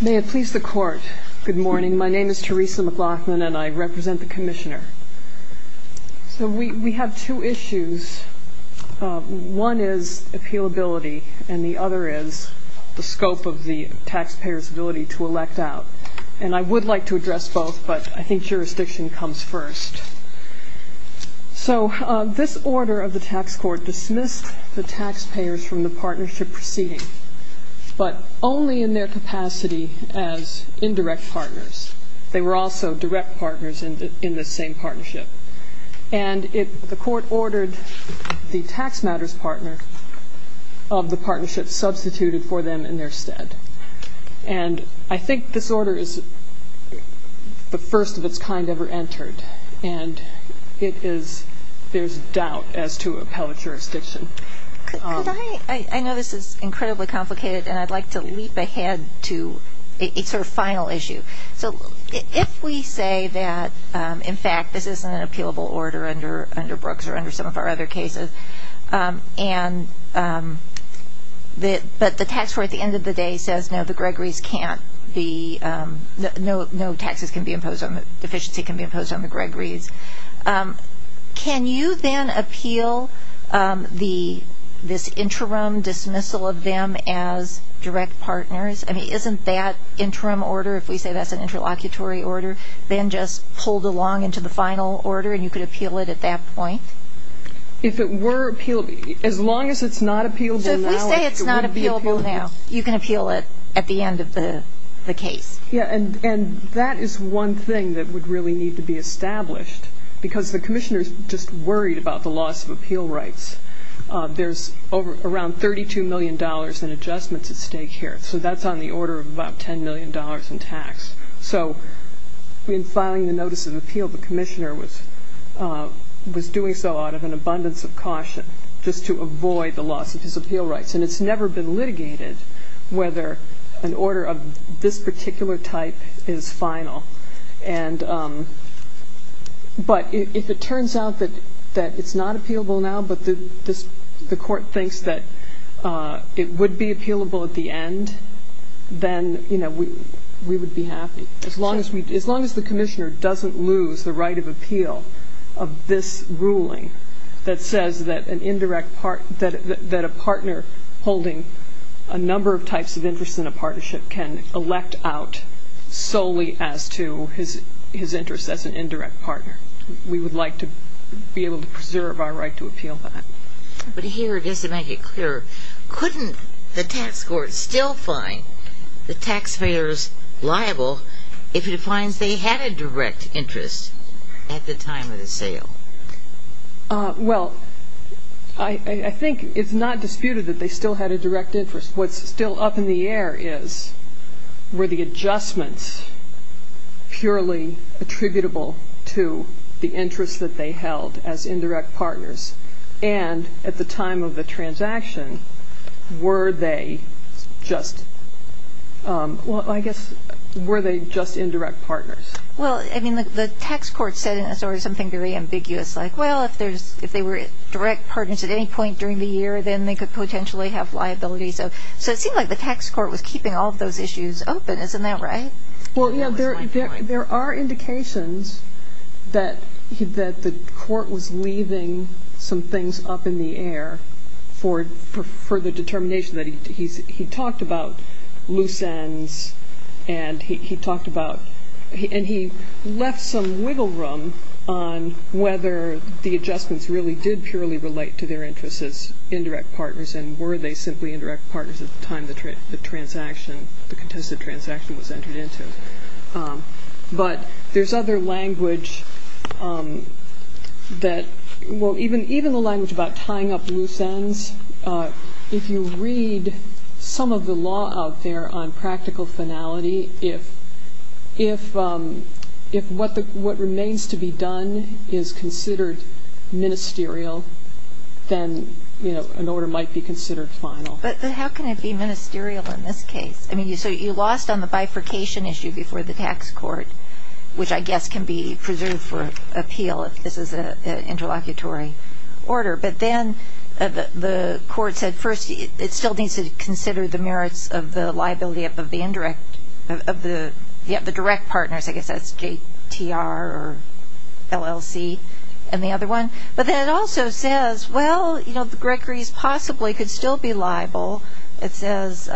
May it please the Court, good morning. My name is Theresa McLaughlin and I represent the Commissioner. So we have two issues. One is appealability and the other is the scope of the taxpayer's ability to elect out. And I would like to address both, but I think jurisdiction comes first. So this order of the Tax Court dismissed the taxpayers from the partnership proceeding, but only in their capacity as indirect partners. They were also direct partners in this same partnership. And the Court ordered the tax matters partner of the partnership substituted for them in their stead. And I think this order is the first of its kind ever entered, and there's doubt as to appellate jurisdiction. I know this is incredibly complicated, and I'd like to leap ahead to a sort of final issue. So if we say that, in fact, this isn't an appealable order under Brooks or under some of our other cases, but the Tax Court at the end of the day says, no, the Gregory's can't be, no taxes can be imposed on them, can you then appeal this interim dismissal of them as direct partners? I mean, isn't that interim order, if we say that's an interlocutory order, then just pulled along into the final order and you could appeal it at that point? If it were appealable, as long as it's not appealable now, it wouldn't be appealable. So if we say it's not appealable now, you can appeal it at the end of the case. Yeah, and that is one thing that would really need to be established, because the commissioner's just worried about the loss of appeal rights. There's around $32 million in adjustments at stake here, so that's on the order of about $10 million in tax. So in filing the notice of appeal, the commissioner was doing so out of an abundance of caution, just to avoid the loss of his appeal rights. And it's never been litigated whether an order of this particular type is final. But if it turns out that it's not appealable now, but the court thinks that it would be appealable at the end, then we would be happy. As long as the commissioner doesn't lose the right of appeal of this ruling that says that a partner holding a number of types of interest in a partnership can elect out solely as to his interest as an indirect partner, we would like to be able to preserve our right to appeal that. But here, just to make it clearer, couldn't the tax court still find the taxpayers liable if it finds they had a direct interest at the time of the sale? Well, I think it's not disputed that they still had a direct interest. What's still up in the air is, were the adjustments purely attributable to the interest that they held as indirect partners? And at the time of the transaction, were they just ñ well, I guess, were they just indirect partners? Well, I mean, the tax court said in a sort of something very ambiguous, like, well, if they were direct partners at any point during the year, then they could potentially have liability. So it seemed like the tax court was keeping all of those issues open. Isn't that right? Well, yeah, there are indications that the court was leaving some things up in the air for the determination that he talked about loose ends, and he talked about ñ and he left some wiggle room on whether the adjustments really did purely relate to their interest as indirect partners, and were they simply indirect partners at the time the transaction, the contested transaction was entered into. But there's other language that ñ well, even the language about tying up loose ends, if you read some of the law out there on practical finality, if what remains to be done is considered ministerial, then an order might be considered final. But how can it be ministerial in this case? I mean, so you lost on the bifurcation issue before the tax court, which I guess can be preserved for appeal if this is an interlocutory order. But then the court said, first, it still needs to consider the merits of the liability of the direct partners. I guess that's JTR or LLC and the other one. But then it also says, well, you know, the Gregory's possibly could still be liable. It says,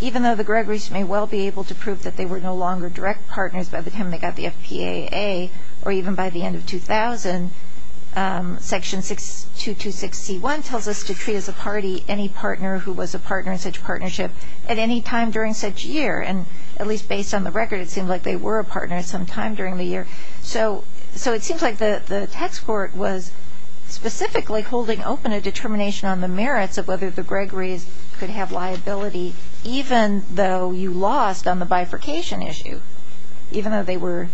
even though the Gregory's may well be able to prove that they were no longer direct partners by the time they got the FPAA, or even by the end of 2000, Section 226C1 tells us to treat as a party any partner who was a partner in such a partnership at any time during such a year. And at least based on the record, it seemed like they were a partner at some time during the year. So it seems like the tax court was specifically holding open a determination on the merits of whether the Gregory's could have liability even though you lost on the bifurcation issue, even though they were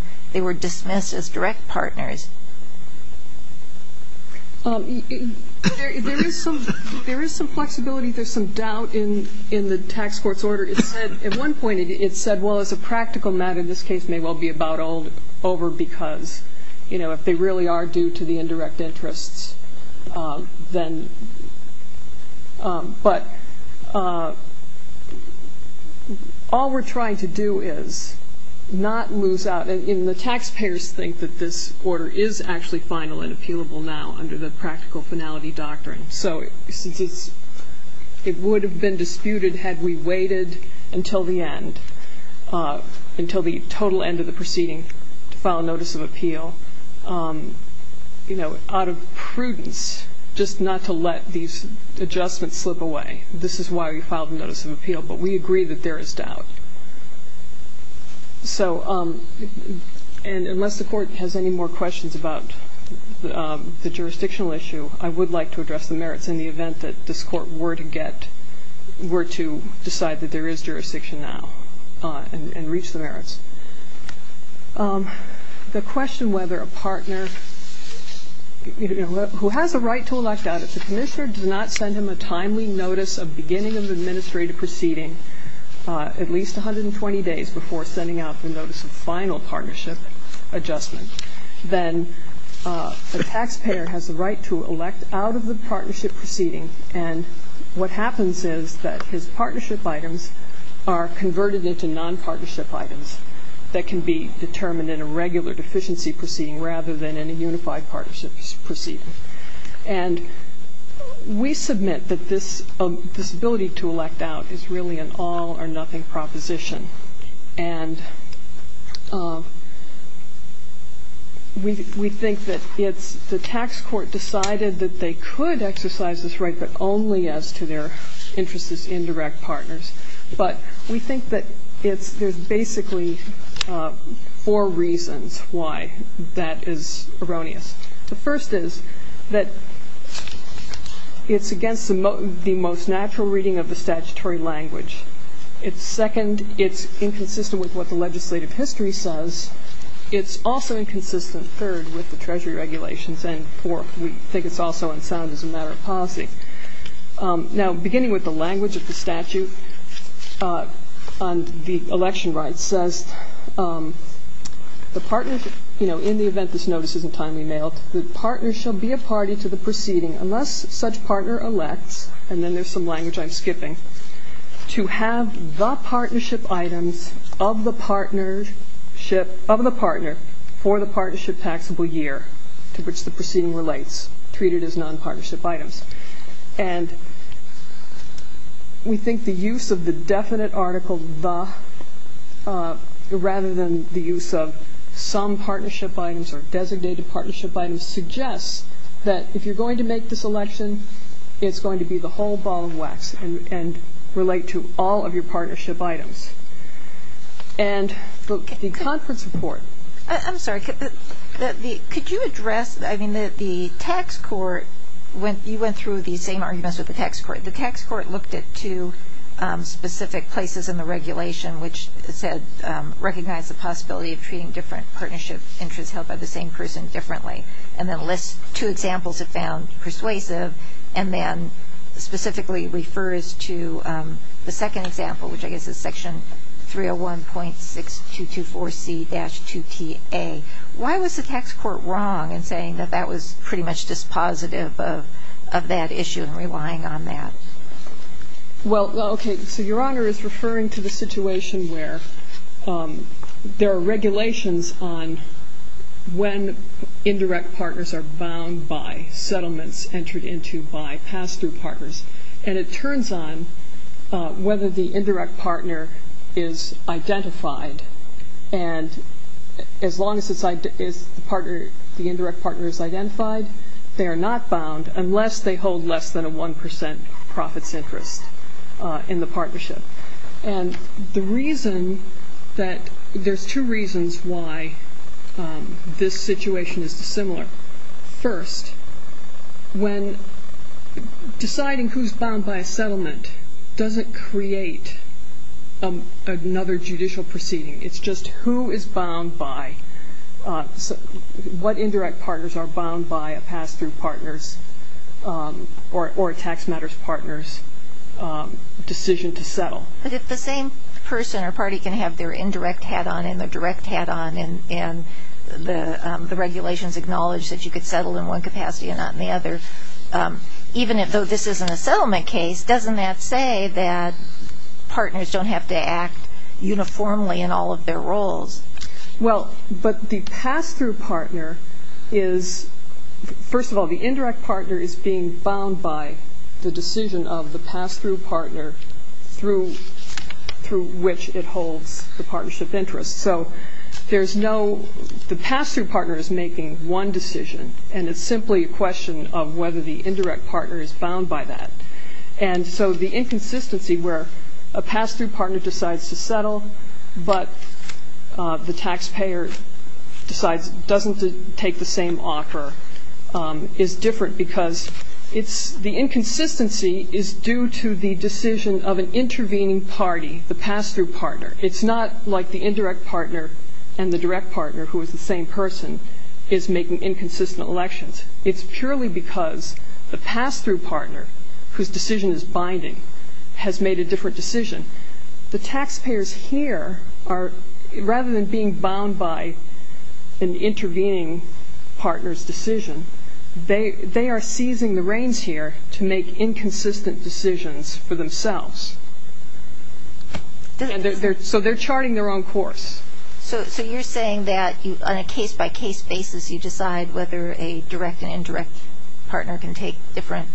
dismissed as direct partners. There is some flexibility. There's some doubt in the tax court's order. It said at one point, it said, well, as a practical matter, if they really are due to the indirect interests, then. But all we're trying to do is not lose out. And the taxpayers think that this order is actually final and appealable now under the practical finality doctrine. So it would have been disputed had we waited until the end, to file a notice of appeal out of prudence just not to let these adjustments slip away. This is why we filed a notice of appeal. But we agree that there is doubt. So unless the court has any more questions about the jurisdictional issue, I would like to address the merits in the event that this court were to get, that there is jurisdiction now and reach the merits. The question whether a partner who has a right to elect out, if the commissioner does not send him a timely notice of beginning of administrative proceeding at least 120 days before sending out the notice of final partnership adjustment, then the taxpayer has the right to elect out of the partnership proceeding. And what happens is that his partnership items are converted into nonpartnership items that can be determined in a regular deficiency proceeding rather than in a unified partnership proceeding. And we submit that this ability to elect out is really an all or nothing proposition. And we think that it's the tax court decided that they could exercise this right but only as to their interest as indirect partners. But we think that there's basically four reasons why that is erroneous. The first is that it's against the most natural reading of the statutory language. Second, it's inconsistent with what the legislative history says. It's also inconsistent, third, with the Treasury regulations, and fourth, we think it's also unsound as a matter of policy. Now, beginning with the language of the statute on the election rights says, in the event this notice isn't timely mailed, the partner shall be a party to the proceeding unless such partner elects, and then there's some language I'm skipping, to have the partnership items of the partner for the partnership taxable year to which the proceeding relates, treated as non-partnership items. And we think the use of the definite article, the, rather than the use of some partnership items or designated partnership items, suggests that if you're going to make this election, it's going to be the whole ball of wax and relate to all of your partnership items. And the conference report. I'm sorry, could you address, I mean, the tax court, you went through the same arguments with the tax court. The tax court looked at two specific places in the regulation which said, recognize the possibility of treating different partnership interests held by the same person differently, and then lists two examples it found persuasive, and then specifically refers to the second example, which I guess is section 301.6224C-2TA. Why was the tax court wrong in saying that that was pretty much dispositive of that issue and relying on that? Well, okay, so Your Honor is referring to the situation where there are regulations on when indirect partners are bound by settlements entered into by pass-through partners. And it turns on whether the indirect partner is identified. And as long as the indirect partner is identified, they are not bound unless they hold less than a 1% profits interest in the partnership. And the reason that, there's two reasons why this situation is dissimilar. First, when deciding who's bound by a settlement doesn't create another judicial proceeding. It's just who is bound by, what indirect partners are bound by a pass-through partners or a tax matters partners decision to settle. But if the same person or party can have their indirect hat on and their direct hat on, and the regulations acknowledge that you could settle in one capacity and not in the other, even though this isn't a settlement case, doesn't that say that partners don't have to act uniformly in all of their roles? Well, but the pass-through partner is, first of all, the indirect partner is being bound by the decision of the pass-through partner through which it holds the partnership interest. So there's no, the pass-through partner is making one decision, and it's simply a question of whether the indirect partner is bound by that. And so the inconsistency where a pass-through partner decides to settle, but the taxpayer decides, doesn't take the same offer, is different because it's, the inconsistency is due to the decision of an intervening party, the pass-through partner. It's not like the indirect partner and the direct partner, who is the same person, is making inconsistent elections. It's purely because the pass-through partner, whose decision is binding, has made a different decision. The taxpayers here are, rather than being bound by an intervening partner's decision, they are seizing the reins here to make inconsistent decisions for themselves. So they're charting their own course. So you're saying that on a case-by-case basis, you decide whether a direct and indirect partner can take different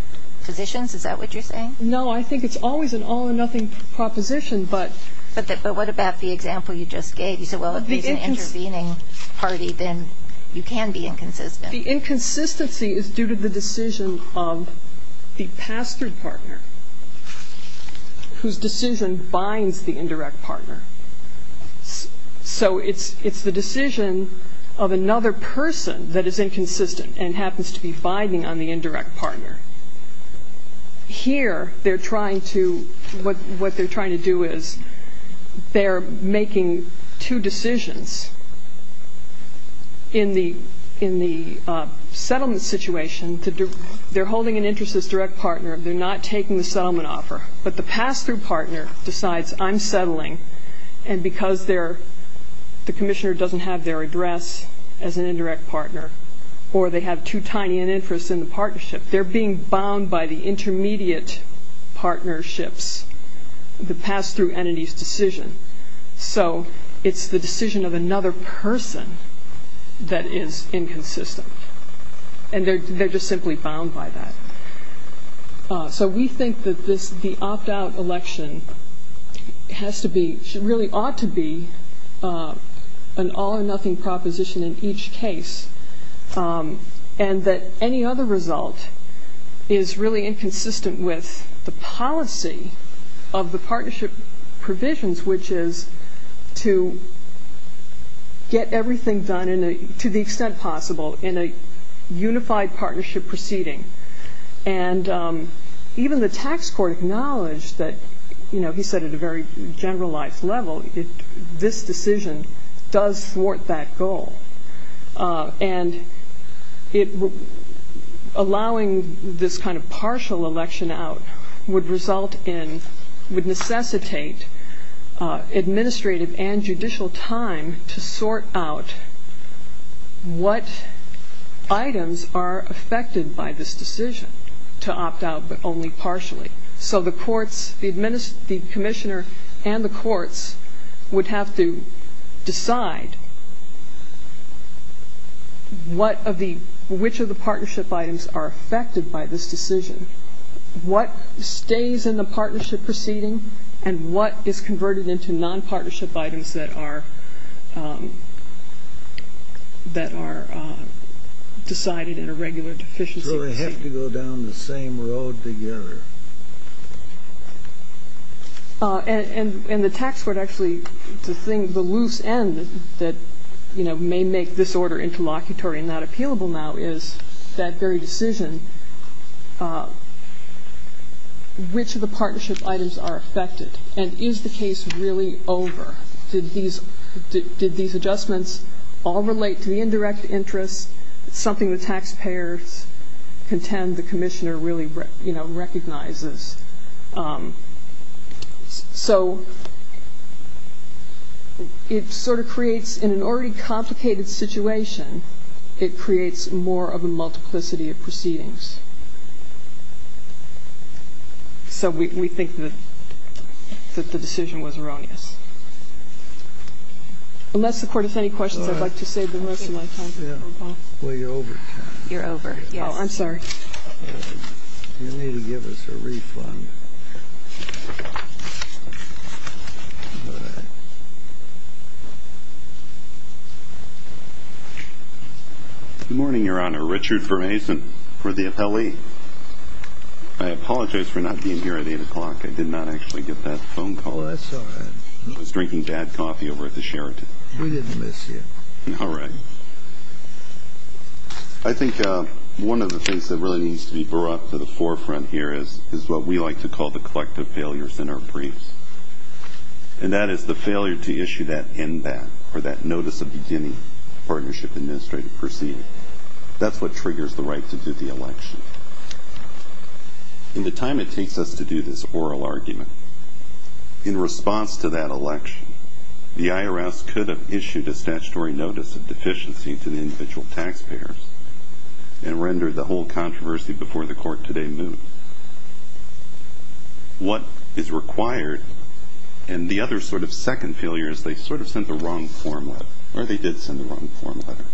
positions? Is that what you're saying? No, I think it's always an all-or-nothing proposition, but... But what about the example you just gave? You said, well, if he's an intervening party, then you can be inconsistent. The inconsistency is due to the decision of the pass-through partner, whose decision binds the indirect partner. So it's the decision of another person that is inconsistent and happens to be binding on the indirect partner. Here, what they're trying to do is, they're making two decisions in the settlement situation. They're holding an interest as direct partner. They're not taking the settlement offer. But the pass-through partner decides, I'm settling, and because the commissioner doesn't have their address as an indirect partner or they have too tiny an interest in the partnership, they're being bound by the intermediate partnerships, the pass-through entity's decision. So it's the decision of another person that is inconsistent. And they're just simply bound by that. So we think that the opt-out election has to be, really ought to be an all-or-nothing proposition in each case and that any other result is really inconsistent with the policy of the partnership provisions, which is to get everything done to the extent possible in a unified partnership proceeding. And even the tax court acknowledged that, you know, he said at a very generalized level, this decision does thwart that goal. And allowing this kind of partial election out would result in, would necessitate administrative and judicial time to sort out what items are affected by this decision to opt out but only partially. So the courts, the commissioner and the courts would have to decide which of the partnership items are affected by this decision, what stays in the partnership proceeding, and what is converted into non-partnership items that are decided in a regular deficiency proceeding. So they have to go down the same road together. And the tax court actually, the thing, the loose end that may make this order interlocutory and not appealable now is that very decision, which of the partnership items are affected, and is the case really over? Did these adjustments all relate to the indirect interest, something the taxpayers contend the commissioner really, you know, recognizes? So it sort of creates, in an already complicated situation, So we think that the decision was erroneous. Unless the Court has any questions, I'd like to save the rest of my time. Well, you're over, Karen. You're over. Yes. Oh, I'm sorry. Good morning, Your Honor. Richard Firmason for the appellee. I apologize for not being here at 8 o'clock. I did not actually get that phone call. Oh, that's all right. I was drinking bad coffee over at the Sheraton. We didn't miss you. All right. I think one of the things that really needs to be brought to the forefront here is what we like to call the collective failures in our briefs, and that is the failure to issue that NBAP, or that Notice of Beginning Partnership Administrative Proceeding. That's what triggers the right to do the election. In the time it takes us to do this oral argument, in response to that election, the IRS could have issued a statutory notice of deficiency to the individual taxpayers and rendered the whole controversy before the Court today moved. What is required, and the other sort of second failure, is they sort of sent the wrong form letter, or they did send the wrong form letter,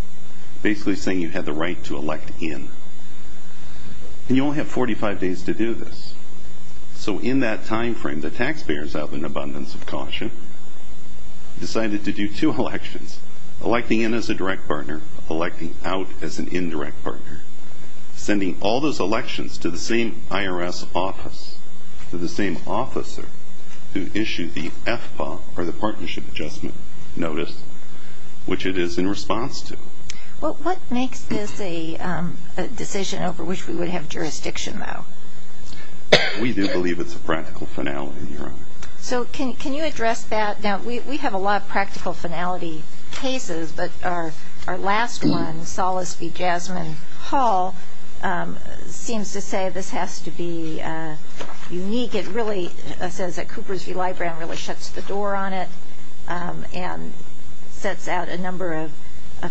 basically saying you had the right to elect in. And you only have 45 days to do this. So in that time frame, the taxpayers, out of an abundance of caution, decided to do two elections, electing in as a direct partner, electing out as an indirect partner, sending all those elections to the same IRS office, to the same officer who issued the FPA, or the Partnership Adjustment Notice, which it is in response to. Well, what makes this a decision over which we would have jurisdiction, though? We do believe it's a practical finality, Your Honor. So can you address that? Now, we have a lot of practical finality cases, but our last one, Solis v. Jasmine Hall, seems to say this has to be unique. It really says that Coopers v. Libran really shuts the door on it and sets out a number of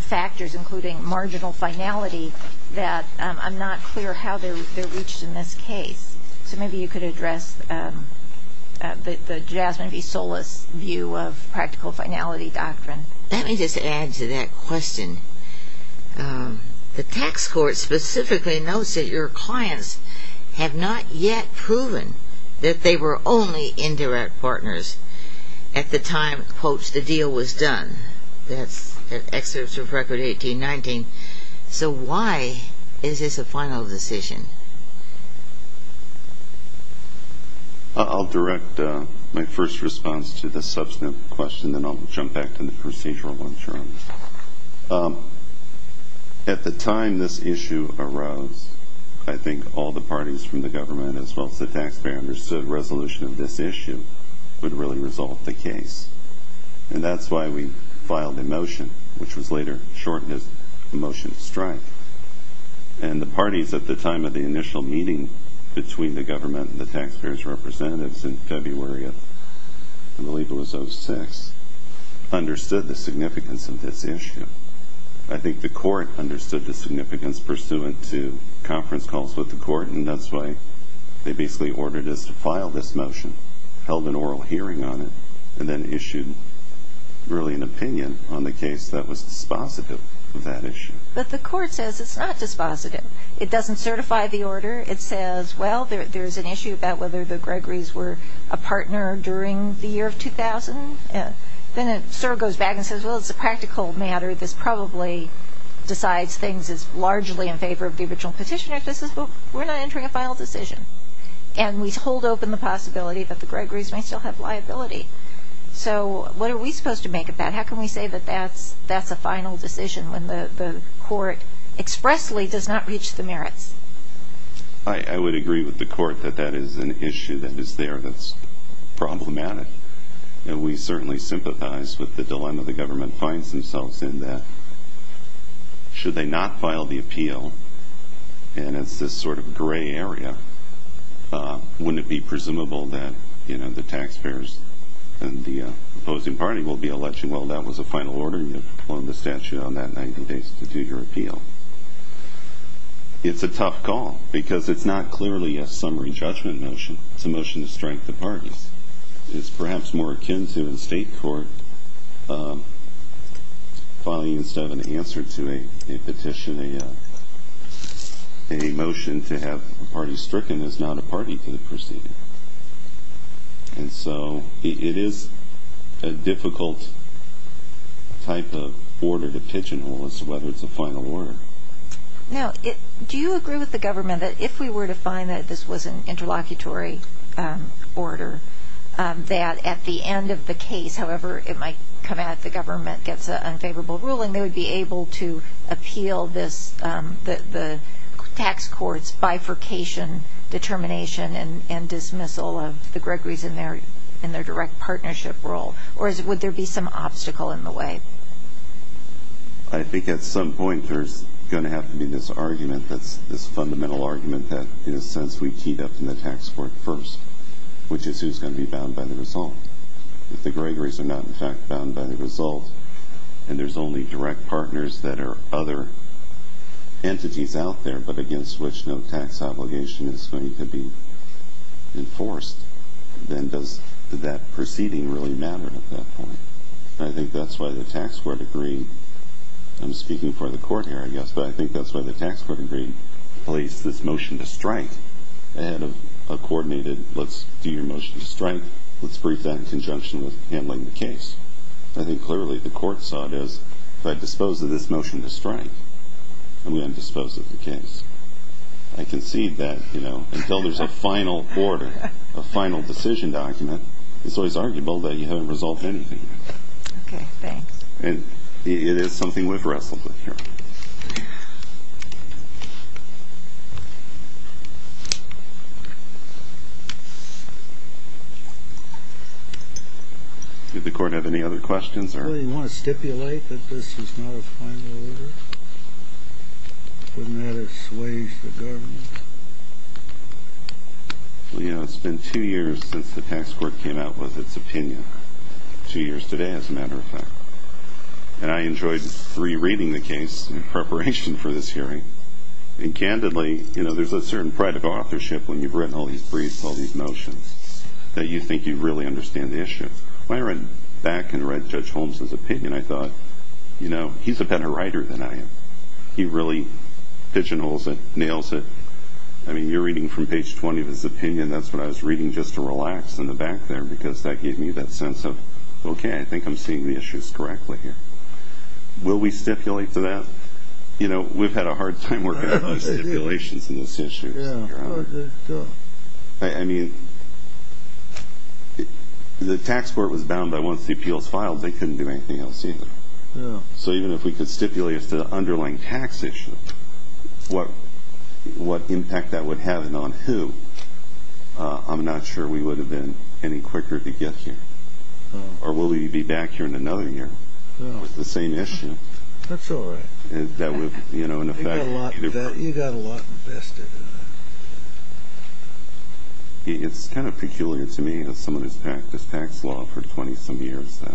factors, including marginal finality, that I'm not clear how they're reached in this case. So maybe you could address the Jasmine v. Solis view of practical finality doctrine. Let me just add to that question. The tax court specifically notes that your clients have not yet proven that they were only indirect partners at the time, quote, the deal was done. That's an excerpt from Record 1819. So why is this a final decision? I'll direct my first response to the subsequent question, and then I'll jump back to the procedural one, Your Honor. At the time this issue arose, I think all the parties from the government, as well as the taxpayer, understood a resolution of this issue would really resolve the case. And that's why we filed a motion, which was later shortened as a motion to strike. And the parties at the time of the initial meeting between the government and the taxpayer's representatives in February of, I believe it was 06, understood the significance of this issue. I think the court understood the significance pursuant to conference calls with the court, and that's why they basically ordered us to file this motion, held an oral hearing on it, and then issued really an opinion on the case that was dispositive of that issue. But the court says it's not dispositive. It doesn't certify the order. It says, well, there's an issue about whether the Gregory's were a partner during the year of 2000. Then it sort of goes back and says, well, it's a practical matter. This probably decides things largely in favor of the original petitioner. It says, well, we're not entering a final decision. And we hold open the possibility that the Gregory's may still have liability. So what are we supposed to make of that? How can we say that that's a final decision when the court expressly does not reach the merits? I would agree with the court that that is an issue that is there that's problematic. And we certainly sympathize with the dilemma the government finds themselves in, that should they not file the appeal, and it's this sort of gray area, wouldn't it be presumable that the taxpayers and the opposing party will be alleging, well, that was a final order, and you've flown the statute on that 90 days to do your appeal. It's a tough call because it's not clearly a summary judgment motion. It's a motion to strike the parties. It's perhaps more akin to in state court filing instead of an answer to a petition, a motion to have a party stricken as not a party to the proceeding. And so it is a difficult type of order to pitch in on whether it's a final order. Now, do you agree with the government that if we were to find that this was an interlocutory order, that at the end of the case, however it might come out, if the government gets an unfavorable ruling, they would be able to appeal the tax court's bifurcation determination and dismissal of the Gregories in their direct partnership role, or would there be some obstacle in the way? I think at some point there's going to have to be this argument, this fundamental argument that in a sense we keyed up in the tax court first, which is who's going to be bound by the result. If the Gregories are not in fact bound by the result and there's only direct partners that are other entities out there but against which no tax obligation is going to be enforced, then does that proceeding really matter at that point? I think that's why the tax court agreed. I'm speaking for the court here, I guess, but I think that's why the tax court agreed to place this motion to strike ahead of a coordinated, let's do your motion to strike, let's brief that in conjunction with handling the case. I think clearly the court saw it as, if I dispose of this motion to strike, I'm going to dispose of the case. I concede that until there's a final order, a final decision document, it's always arguable that you haven't resolved anything yet. Okay, thanks. And it is something we've wrestled with here. Did the court have any other questions? Do you want to stipulate that this is not a final order? Wouldn't that assuage the government? Well, you know, it's been two years since the tax court came out with its opinion, two years today as a matter of fact. And I enjoyed re-reading the case in preparation for this hearing. And candidly, you know, there's a certain pride of authorship when you've written all these briefs, all these motions, that you think you really understand the issue. When I read back and read Judge Holmes' opinion, I thought, you know, he's a better writer than I am. He really pigeonholes it, nails it. I mean, you're reading from page 20 of his opinion. That's what I was reading just to relax in the back there because that gave me that sense of, okay, I think I'm seeing the issues correctly here. Will we stipulate to that? You know, we've had a hard time working on stipulations in this issue. I mean, the tax court was bound by once the appeals filed, they couldn't do anything else either. So even if we could stipulate as to the underlying tax issue, what impact that would have and on who, I'm not sure we would have been any quicker to get here. Or will we be back here in another year with the same issue? That's all right. That would, you know, in effect. You got a lot invested in that. It's kind of peculiar to me, as someone who's practiced tax law for 20-some years, that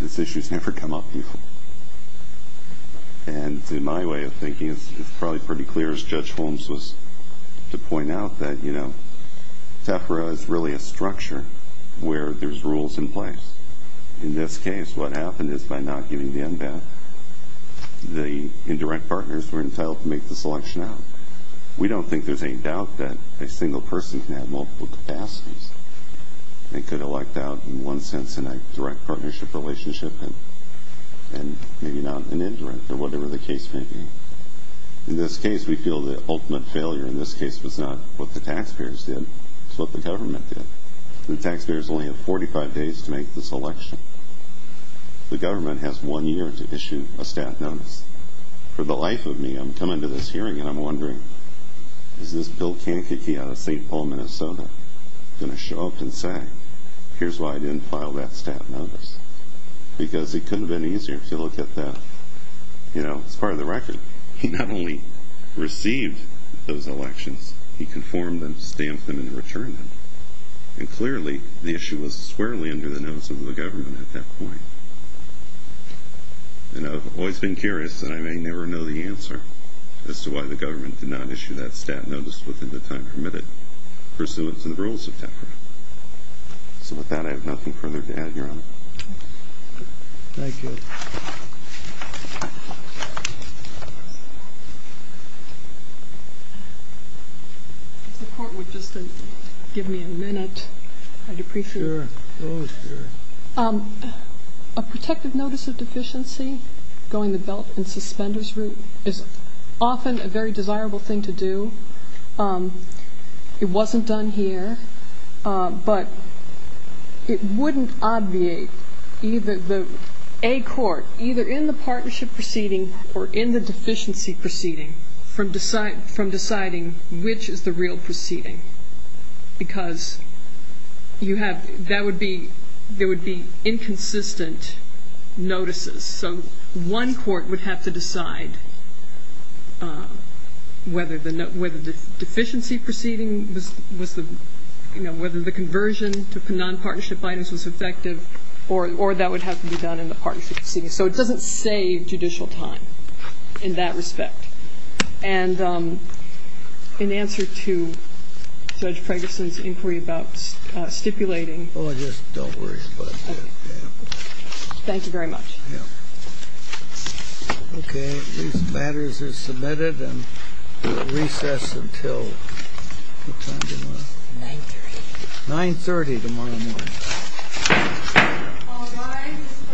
these issues never come up before. And in my way of thinking, it's probably pretty clear, as Judge Holmes was to point out, that, you know, SEFRA is really a structure where there's rules in place. In this case, what happened is by not giving the NBAT, the indirect partners were entitled to make the selection out. We don't think there's any doubt that a single person can have multiple capacities and could elect out in one sense in a direct partnership relationship and maybe not an indirect or whatever the case may be. In this case, we feel the ultimate failure in this case was not what the taxpayers did. It's what the government did. The taxpayers only have 45 days to make this election. The government has one year to issue a staff notice. For the life of me, I'm coming to this hearing and I'm wondering, is this Bill Kankakee out of St. Paul, Minnesota, going to show up and say, here's why I didn't file that staff notice? Because it couldn't have been easier to look at that. You know, it's part of the record. He not only received those elections, he conformed them, stamped them, and returned them. Clearly, the issue was squarely under the notice of the government at that point. I've always been curious, and I may never know the answer, as to why the government did not issue that staff notice within the time permitted pursuant to the rules of TEPRA. With that, I have nothing further to add, Your Honor. Thank you. If the Court would just give me a minute, I'd appreciate it. Sure. Oh, sure. A protective notice of deficiency going the belt and suspenders route is often a very desirable thing to do. It wasn't done here, but it wouldn't obviate a court, either in the partnership proceeding or in the deficiency proceeding, from deciding which is the real proceeding, because there would be inconsistent notices. So one court would have to decide whether the deficiency proceeding was the, you know, whether the conversion to nonpartnership items was effective, or that would have to be done in the partnership proceeding. So it doesn't save judicial time in that respect. And in answer to Judge Ferguson's inquiry about stipulating. Oh, just don't worry about it. Okay. Thank you very much. Okay. These matters are submitted, and we'll recess until what time tomorrow? 9.30. 9.30 tomorrow morning.